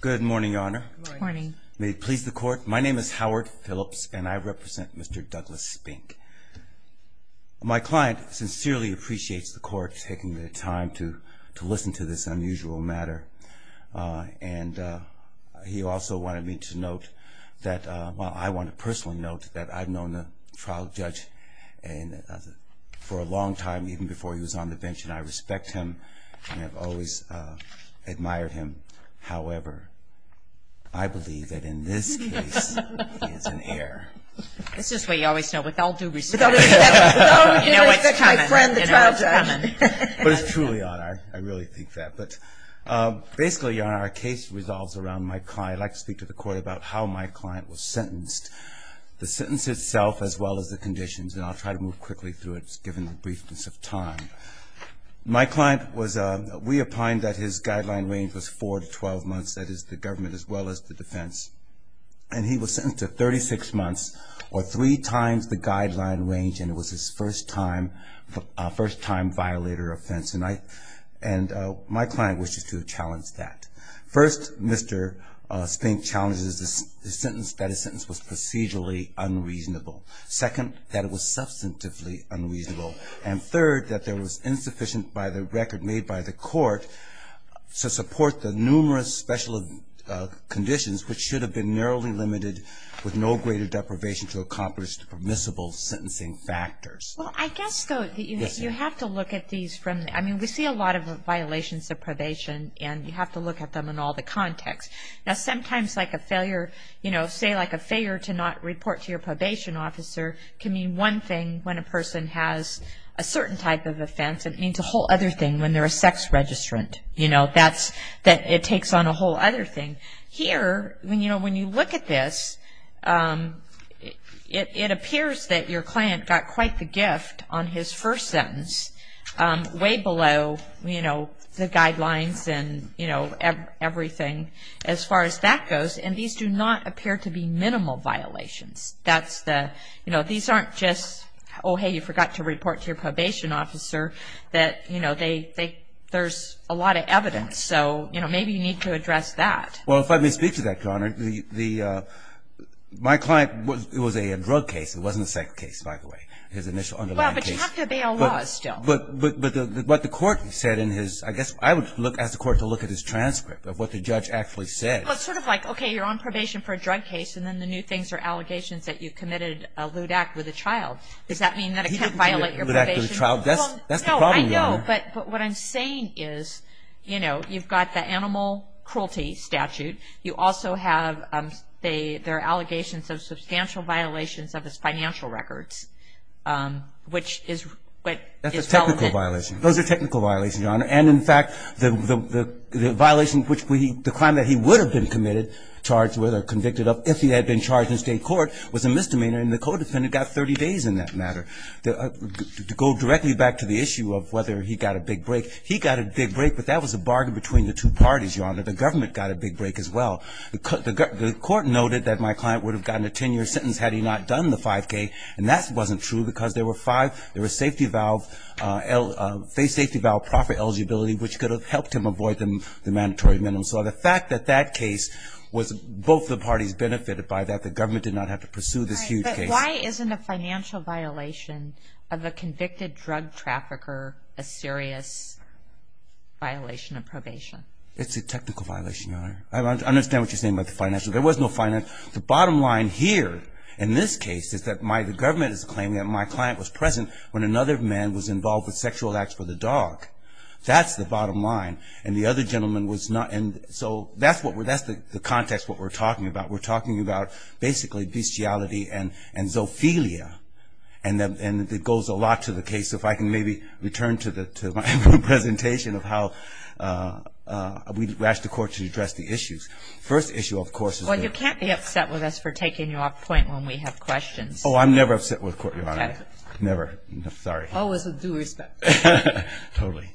Good morning, Your Honor. Good morning. May it please the Court, my name is Howard Phillips and I represent Mr. Douglas Spink. My client sincerely appreciates the Court taking the time to listen to this unusual matter. And he also wanted me to note that, well I want to personally note that I've known the trial judge for a long time, even before he was on the bench, and I respect him and have always admired him. However, I believe that in this case, he is an heir. This is what you always know, with all due respect. With all due respect to my friend, the trial judge. But it's true, Your Honor, I really think that. But basically, Your Honor, our case resolves around my client. I'd like to speak to the Court about how my client was sentenced, the sentence itself as well as the conditions. And I'll try to move quickly through it, given the briefness of time. My client was, we opined that his guideline range was four to 12 months, that is the government as well as the defense. And he was sentenced to 36 months, or three times the guideline range, and it was his first time, first time violator offense. And I, and my client wishes to challenge that. First, Mr. Spink challenges the sentence, that his sentence was procedurally unreasonable. Second, that it was substantively unreasonable. And third, that there was insufficient by the record made by the Court to support the numerous special conditions, which should have been narrowly limited with no greater deprivation to accomplish the permissible sentencing factors. Well, I guess, though, you have to look at these from, I mean, we see a lot of violations of probation, and you have to look at them in all the contexts. Now, sometimes like a failure, you know, say like a failure to not report to your probation officer, can mean one thing when a person has a certain type of offense, and it means a whole other thing when they're a sex registrant. You know, that's, it takes on a whole other thing. Here, you know, when you look at this, it appears that your client got quite the gift on his first sentence, way below, you know, the guidelines and, you know, everything as far as that goes. And these do not appear to be minimal violations. That's the, you know, these aren't just, oh, hey, you forgot to report to your probation officer, that, you know, there's a lot of evidence. So, you know, maybe you need to address that. Well, if I may speak to that, Your Honor, my client, it was a drug case. It wasn't a sex case, by the way, his initial underlying case. You have to obey all laws still. But what the court said in his, I guess I would ask the court to look at his transcript of what the judge actually said. Well, it's sort of like, okay, you're on probation for a drug case, and then the new things are allegations that you committed a lewd act with a child. Does that mean that I can't violate your probation? He didn't commit a lewd act with a child. That's the problem, Your Honor. No, I know, but what I'm saying is, you know, you've got the animal cruelty statute. You also have, there are allegations of substantial violations of his financial records, which is what is relevant. That's a technical violation. Those are technical violations, Your Honor. And, in fact, the violation which we, the crime that he would have been committed, charged with or convicted of, if he had been charged in state court, was a misdemeanor, and the co-defendant got 30 days in that matter. To go directly back to the issue of whether he got a big break, he got a big break, but that was a bargain between the two parties, Your Honor. The government got a big break as well. The court noted that my client would have gotten a 10-year sentence had he not done the 5K, and that wasn't true because there were five, there was safety valve, face safety valve, profit eligibility, which could have helped him avoid the mandatory minimum. So the fact that that case was, both the parties benefited by that, the government did not have to pursue this huge case. But why isn't a financial violation of a convicted drug trafficker a serious violation of probation? It's a technical violation, Your Honor. I understand what you're saying about the financial. There was no financial. The bottom line here in this case is that the government is claiming that my client was present when another man was involved with sexual acts for the dog. That's the bottom line, and the other gentleman was not. And so that's the context of what we're talking about. We're talking about basically bestiality and zoophilia, and it goes a lot to the case. If I can maybe return to my presentation of how we asked the court to address the issues. Well, you can't be upset with us for taking you off point when we have questions. Oh, I'm never upset with the court, Your Honor. Never. Sorry. Always with due respect. Totally.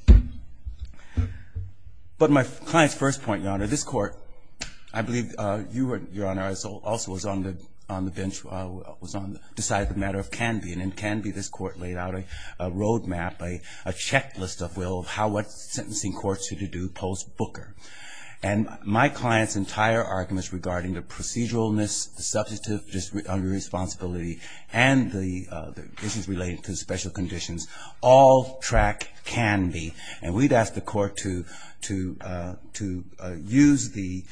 But my client's first point, Your Honor, this court, I believe you were, Your Honor, also was on the bench, decided the matter of Canby. And in Canby, this court laid out a roadmap, a checklist of, well, what sentencing courts should do post-Booker. And my client's entire arguments regarding the proceduralness, the substantive irresponsibility, and the issues related to special conditions all track Canby. And we'd asked the court to use the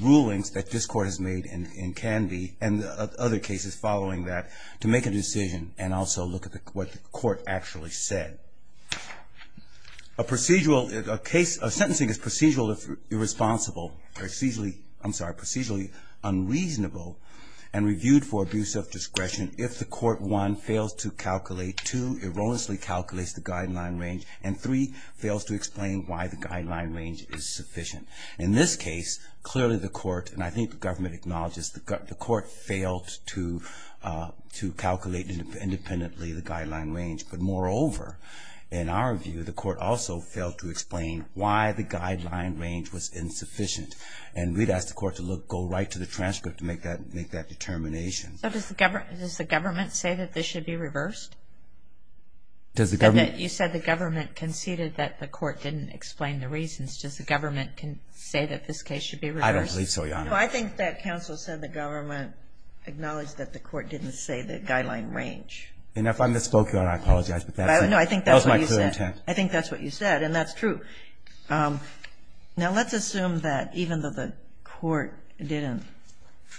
rulings that this court has made in Canby and other cases following that to make a decision and also look at what the court actually said. A procedural, a case, a sentencing is procedurally irresponsible, procedurally, I'm sorry, procedurally unreasonable and reviewed for abuse of discretion if the court, one, fails to calculate, two, erroneously calculates the guideline range, and three, fails to explain why the guideline range is sufficient. In this case, clearly the court, and I think the government acknowledges, the court failed to calculate independently the guideline range. But moreover, in our view, the court also failed to explain why the guideline range was insufficient. And we'd asked the court to go right to the transcript to make that determination. So does the government say that this should be reversed? You said the government conceded that the court didn't explain the reasons. Does the government say that this case should be reversed? I don't believe so, Your Honor. Well, I think that counsel said the government acknowledged that the court didn't say the guideline range. And if I misspoke, Your Honor, I apologize. No, I think that's what you said. That was my clear intent. I think that's what you said, and that's true. Now let's assume that even though the court didn't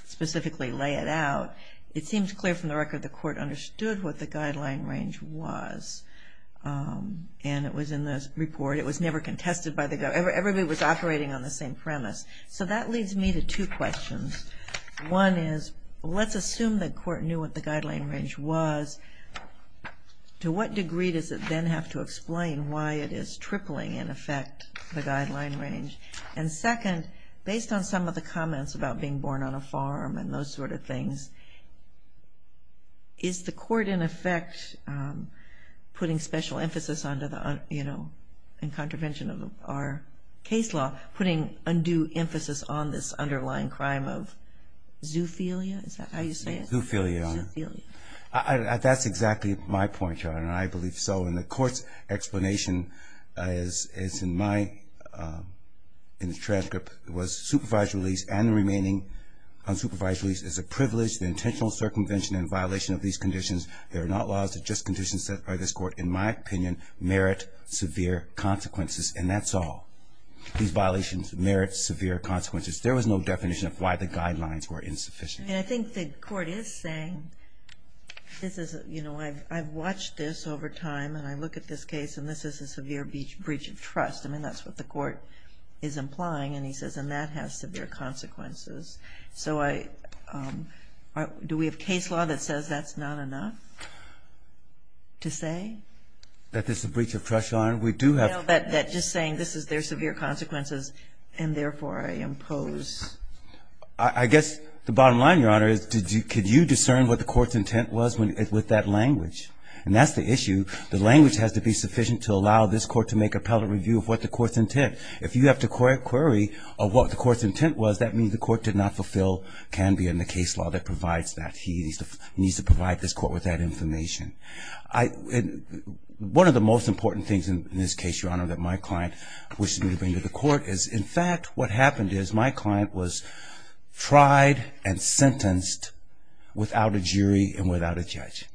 specifically lay it out, it seems clear from the record the court understood what the guideline range was. And it was in the report. It was never contested by the government. Everybody was operating on the same premise. So that leads me to two questions. One is, let's assume the court knew what the guideline range was. To what degree does it then have to explain why it is tripling, in effect, the guideline range? And second, based on some of the comments about being born on a farm and those sort of things, is the court, in effect, putting special emphasis under the, you know, in contravention of our case law, putting undue emphasis on this underlying crime of zoophilia? Is that how you say it? Zoophilia, Your Honor. Zoophilia. That's exactly my point, Your Honor, and I believe so. And the court's explanation is in my transcript, was supervised release and the remaining unsupervised release is a privilege, the intentional circumvention and violation of these conditions. They are not laws, they're just conditions set by this court, in my opinion, merit severe consequences, and that's all. These violations merit severe consequences. There was no definition of why the guidelines were insufficient. And I think the court is saying, you know, I've watched this over time, and I look at this case and this is a severe breach of trust. I mean, that's what the court is implying, and he says, and that has severe consequences. So do we have case law that says that's not enough to say? That this is a breach of trust, Your Honor? That just saying this is their severe consequences and, therefore, I impose. I guess the bottom line, Your Honor, is could you discern what the court's intent was with that language? And that's the issue. The language has to be sufficient to allow this court to make appellate review of what the court's intent. If you have to query of what the court's intent was, that means the court did not fulfill can be in the case law that provides that. He needs to provide this court with that information. One of the most important things in this case, Your Honor, that my client wishes me to bring to the court is, in fact, what happened is my client was tried and sentenced without a jury and without a judge.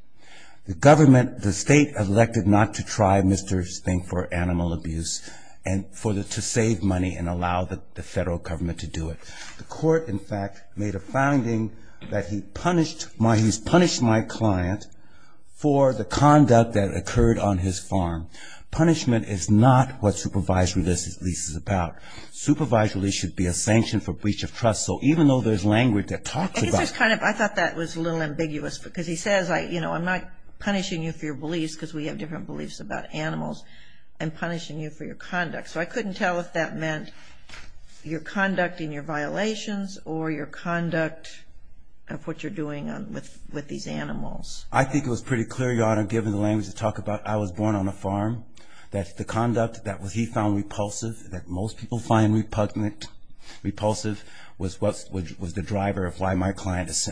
The government, the state, elected not to try Mr. Stink for animal abuse and to save money and allow the federal government to do it. The court, in fact, made a finding that he punished my client for the conduct that occurred on his farm. Punishment is not what supervised release is about. Supervised release should be a sanction for breach of trust. So even though there's language that talks about it. I thought that was a little ambiguous because he says, you know, I'm not punishing you for your beliefs because we have different beliefs about animals and punishing you for your conduct. So I couldn't tell if that meant your conduct and your violations or your conduct of what you're doing with these animals. I think it was pretty clear, Your Honor, given the language you talk about, I was born on a farm, that the conduct that he found repulsive, that most people find repulsive, was the driver of why my client is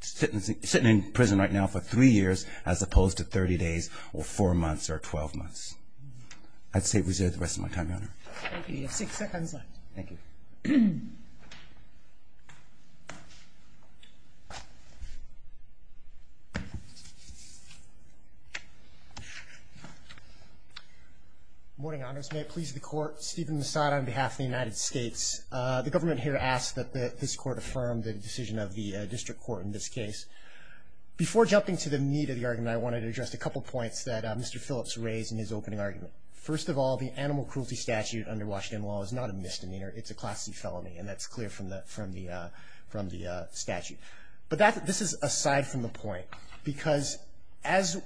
sitting in prison right now for three years as opposed to 30 days or four months or 12 months. I'd say reserve the rest of my time, Your Honor. Six seconds left. Thank you. Good morning, Honors. May it please the Court, Stephen Massad on behalf of the United States. The government here asks that this Court affirm the decision of the district court in this case. Before jumping to the meat of the argument, I wanted to address a couple points that Mr. Phillips raised in his opening argument. First of all, the animal cruelty statute under Washington law is not a misdemeanor. It's a class C felony, and that's clear from the statute. But this is aside from the point, because as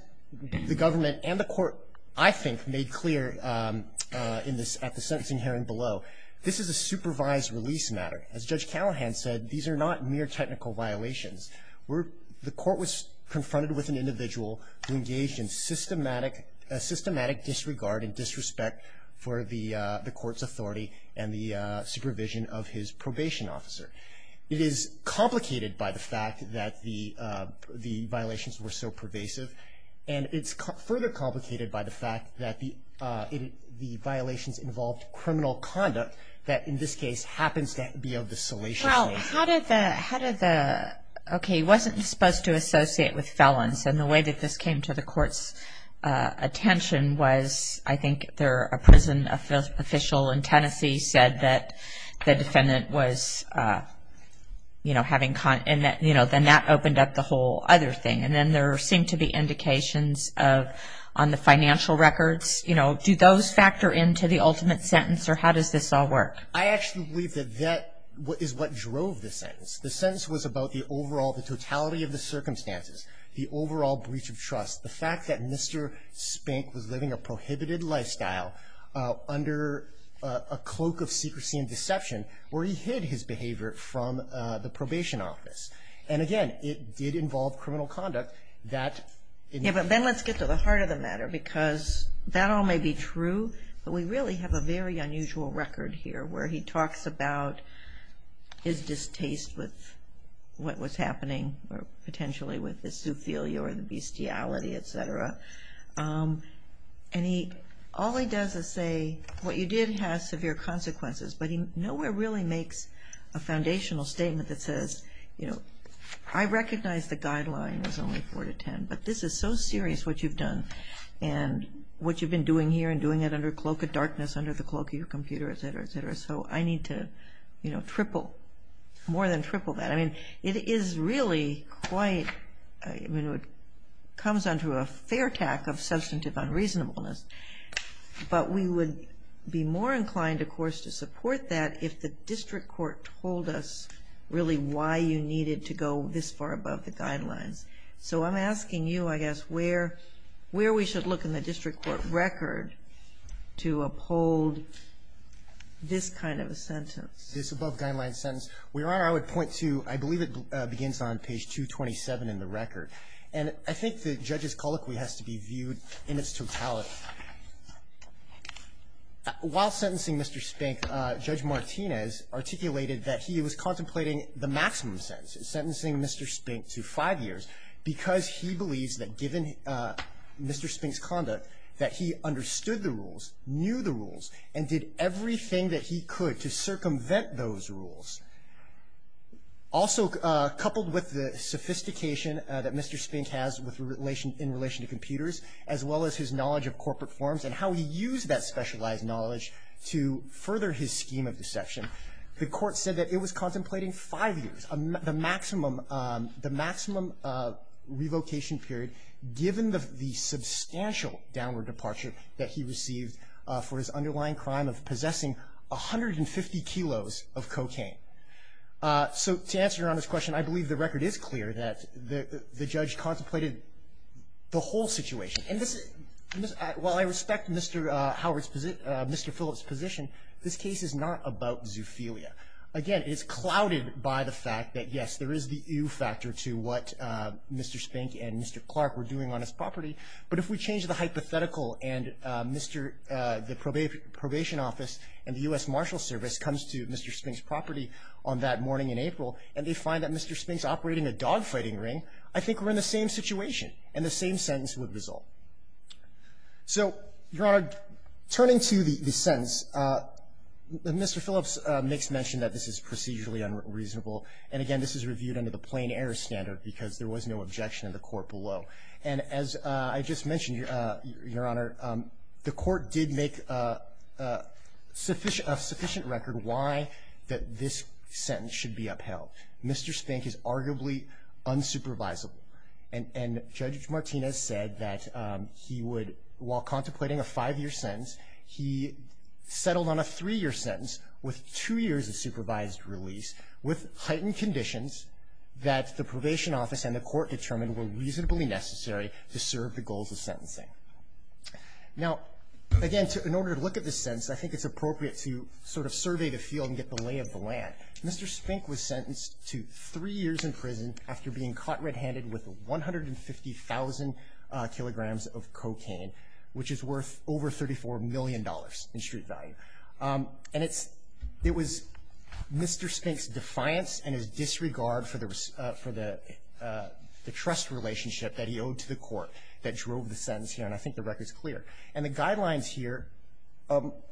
the government and the Court, I think, made clear at the sentencing hearing below, this is a supervised release matter. As Judge Callahan said, these are not mere technical violations. The Court was confronted with an individual who engaged in systematic disregard and disrespect for the Court's authority and the supervision of his probation officer. It is complicated by the fact that the violations were so pervasive, and it's further complicated by the fact that the violations involved criminal conduct that in this case happens to be of the salacious nature. How did the – okay, he wasn't supposed to associate with felons, and the way that this came to the Court's attention was, I think, a prison official in Tennessee said that the defendant was having – and then that opened up the whole other thing. And then there seemed to be indications on the financial records. Do those factor into the ultimate sentence, or how does this all work? I actually believe that that is what drove the sentence. The sentence was about the overall – the totality of the circumstances, the overall breach of trust, the fact that Mr. Spink was living a prohibited lifestyle under a cloak of secrecy and deception, where he hid his behavior from the probation office. And, again, it did involve criminal conduct that – Yeah, but then let's get to the heart of the matter, because that all may be true, but we really have a very unusual record here where he talks about his distaste with what was happening, or potentially with the zoophilia or the bestiality, et cetera. And he – all he does is say what you did has severe consequences, but he nowhere really makes a foundational statement that says, you know, I recognize the guideline was only 4 to 10, but this is so serious what you've done and what you've been doing here and doing it under a cloak of darkness, under the cloak of your computer, et cetera, et cetera. So I need to, you know, triple – more than triple that. I mean, it is really quite – I mean, it comes under a fair tack of substantive unreasonableness, but we would be more inclined, of course, to support that if the district court told us really why you needed to go this far above the guidelines. So I'm asking you, I guess, where we should look in the district court record to uphold this kind of a sentence. This above-guideline sentence. Your Honor, I would point to – I believe it begins on page 227 in the record. And I think the judge's colloquy has to be viewed in its totality. While sentencing Mr. Spink, Judge Martinez articulated that he was contemplating the maximum sentence, sentencing Mr. Spink to five years, because he believes that given Mr. Spink's conduct that he understood the rules, knew the rules, and did everything that he could to circumvent those rules. Also, coupled with the sophistication that Mr. Spink has in relation to computers, as well as his knowledge of corporate forms and how he used that specialized knowledge to further his scheme of deception, the court said that it was contemplating five years, the maximum revocation period given the substantial downward departure that he received for his underlying crime of possessing 150 kilos of cocaine. So to answer Your Honor's question, I believe the record is clear that the judge contemplated the whole situation. While I respect Mr. Phillips' position, this case is not about zoophilia. Again, it's clouded by the fact that, yes, there is the ewe factor to what Mr. Spink and Mr. Clark were doing on his property, but if we change the hypothetical and the probation office and the U.S. Marshal Service comes to Mr. Spink's property on that morning in April and they find that Mr. Spink's operating a dogfighting ring, I think we're in the same situation and the same sentence would resolve. So, Your Honor, turning to the sentence, Mr. Phillips makes mention that this is procedurally unreasonable, and again, this is reviewed under the plain error standard because there was no objection in the court below. And as I just mentioned, Your Honor, the court did make a sufficient record why that this sentence should be upheld. Mr. Spink is arguably unsupervisable. And Judge Martinez said that he would, while contemplating a five-year sentence, he settled on a three-year sentence with two years of supervised release with heightened conditions that the probation office and the court determined were reasonably necessary to serve the goals of sentencing. Now, again, in order to look at this sentence, I think it's appropriate to sort of survey the field and get the lay of the land. Mr. Spink was sentenced to three years in prison after being caught red-handed with 150,000 kilograms of cocaine, which is worth over $34 million in street value. And it was Mr. Spink's defiance and his disregard for the trust relationship that he owed to the court that drove the sentence here, and I think the record's And the guidelines here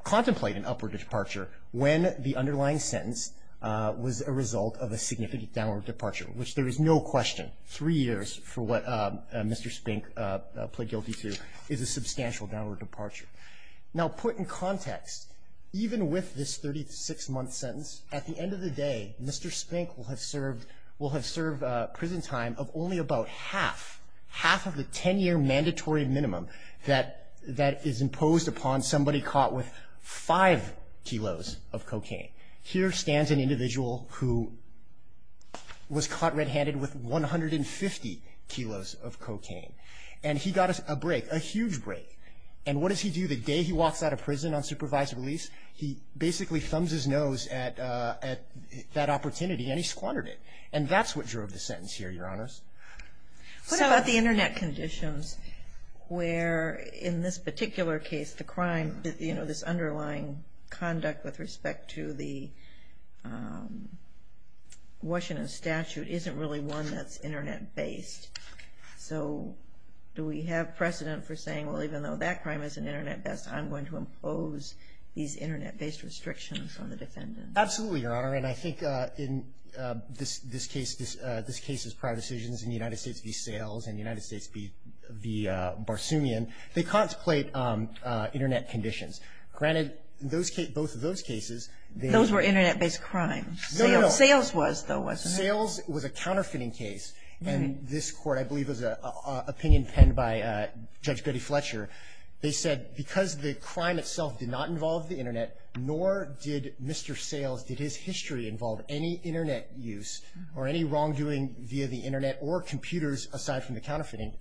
contemplate an upward departure when the underlying sentence was a result of a significant downward departure, which there is no question, three years for what Mr. Spink pled guilty to is a substantial downward departure. Now, put in context, even with this 36-month sentence, at the end of the day, Mr. Spink will have served prison time of only about half, half of the 10-year mandatory minimum that is imposed upon somebody caught with five kilos of cocaine. Here stands an individual who was caught red-handed with 150 kilos of cocaine, and he got a break, a huge break. And what does he do? The day he walks out of prison on supervised release, he basically thumbs his nose at that opportunity, and he squandered it. And that's what drove the sentence here, Your Honors. What about the Internet conditions where, in this particular case, the crime, you know, this underlying conduct with respect to the Washington statute isn't really one that's Internet-based? So do we have precedent for saying, well, even though that crime isn't Internet-based, I'm going to impose these Internet-based restrictions on the defendant? Absolutely, Your Honor. And I think in this case's prior decisions in the United States v. Sales and the United States v. Barsoomian, they contemplate Internet conditions. Granted, both of those cases they — Those were Internet-based crimes. No, no, no. Sales was, though, wasn't it? Sales was a counterfeiting case, and this Court, I believe it was an opinion penned by Judge Betty Fletcher, they said because the crime itself did not involve the Internet, nor did Mr. Sales, did his history involve any Internet use or any wrongdoing via the Internet or computers, aside from the counterfeiting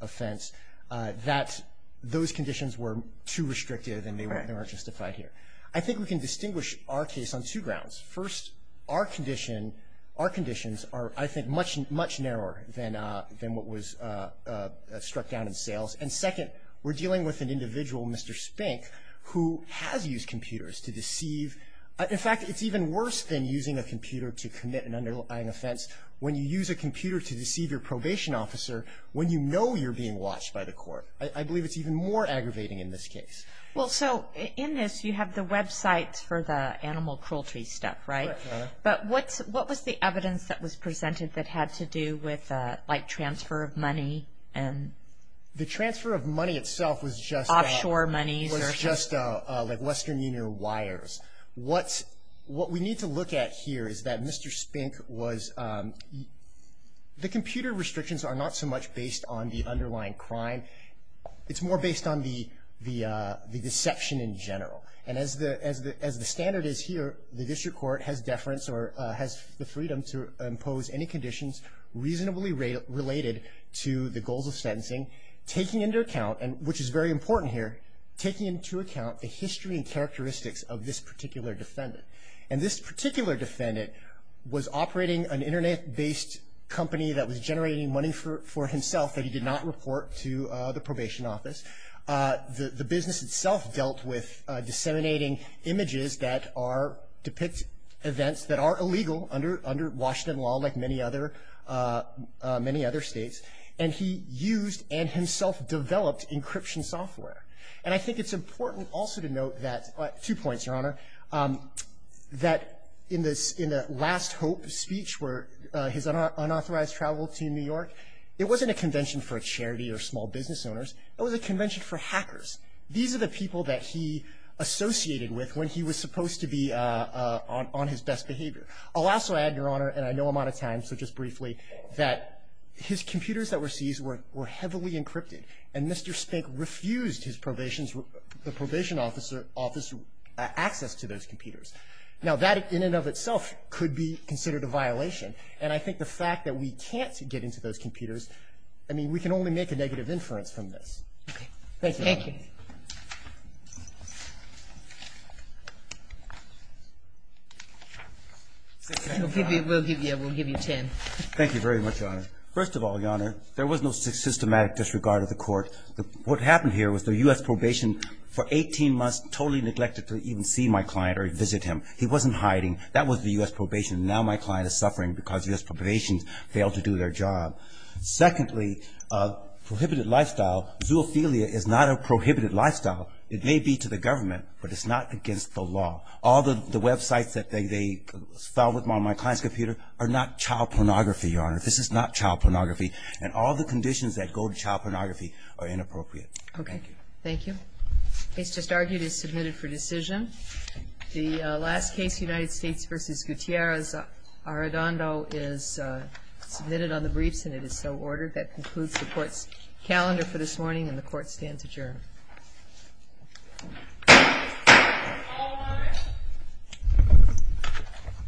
offense, that those conditions were too restrictive and they weren't justified here. I think we can distinguish our case on two grounds. First, our condition, our conditions are, I think, much, much narrower than what was struck down in Sales. And second, we're dealing with an individual, Mr. Spink, who has used computers to deceive. In fact, it's even worse than using a computer to commit an underlying offense when you use a computer to deceive your probation officer when you know you're being watched by the court. I believe it's even more aggravating in this case. Well, so in this you have the website for the animal cruelty stuff, right? Right, Your Honor. But what was the evidence that was presented that had to do with, like, transfer of money? The transfer of money itself was just, like, Western Union wires. What we need to look at here is that Mr. Spink was, the computer restrictions are not so much based on the underlying crime. It's more based on the deception in general. And as the standard is here, the district court has deference or has the freedom to impose any conditions reasonably related to the goals of sentencing, taking into account, which is very important here, taking into account the history and characteristics of this particular defendant. And this particular defendant was operating an Internet-based company that was generating money for himself that he did not report to the probation office. The business itself dealt with disseminating images that are, depict events that are illegal under Washington law, like many other states. And he used and himself developed encryption software. And I think it's important also to note that, two points, Your Honor, that in the last Hope speech where his unauthorized travel to New York, it wasn't a convention for a charity or small business owners. It was a convention for hackers. These are the people that he associated with when he was supposed to be on his best behavior. I'll also add, Your Honor, and I know I'm out of time, so just briefly, that his computers that were seized were heavily encrypted. And Mr. Spink refused his probation's, the probation officer, access to those computers. Now, that in and of itself could be considered a violation. And I think the fact that we can't get into those computers, I mean, we can only make a negative inference from this. Thank you. We'll give you ten. Thank you very much, Your Honor. First of all, Your Honor, there was no systematic disregard of the court. What happened here was the U.S. probation for 18 months totally neglected to even see my client or visit him. He wasn't hiding. That was the U.S. probation. Now my client is suffering because U.S. probation failed to do their job. Secondly, prohibited lifestyle, zoophilia is not a prohibited lifestyle. It may be to the government, but it's not against the law. All the websites that they found on my client's computer are not child pornography, Your Honor. This is not child pornography. And all the conditions that go to child pornography are inappropriate. Thank you. Okay. Thank you. The case just argued is submitted for decision. The last case, United States v. Gutierrez-Arredondo, is submitted on the briefs, and it is so ordered. That concludes the court's calendar for this morning, and the court stands adjourned.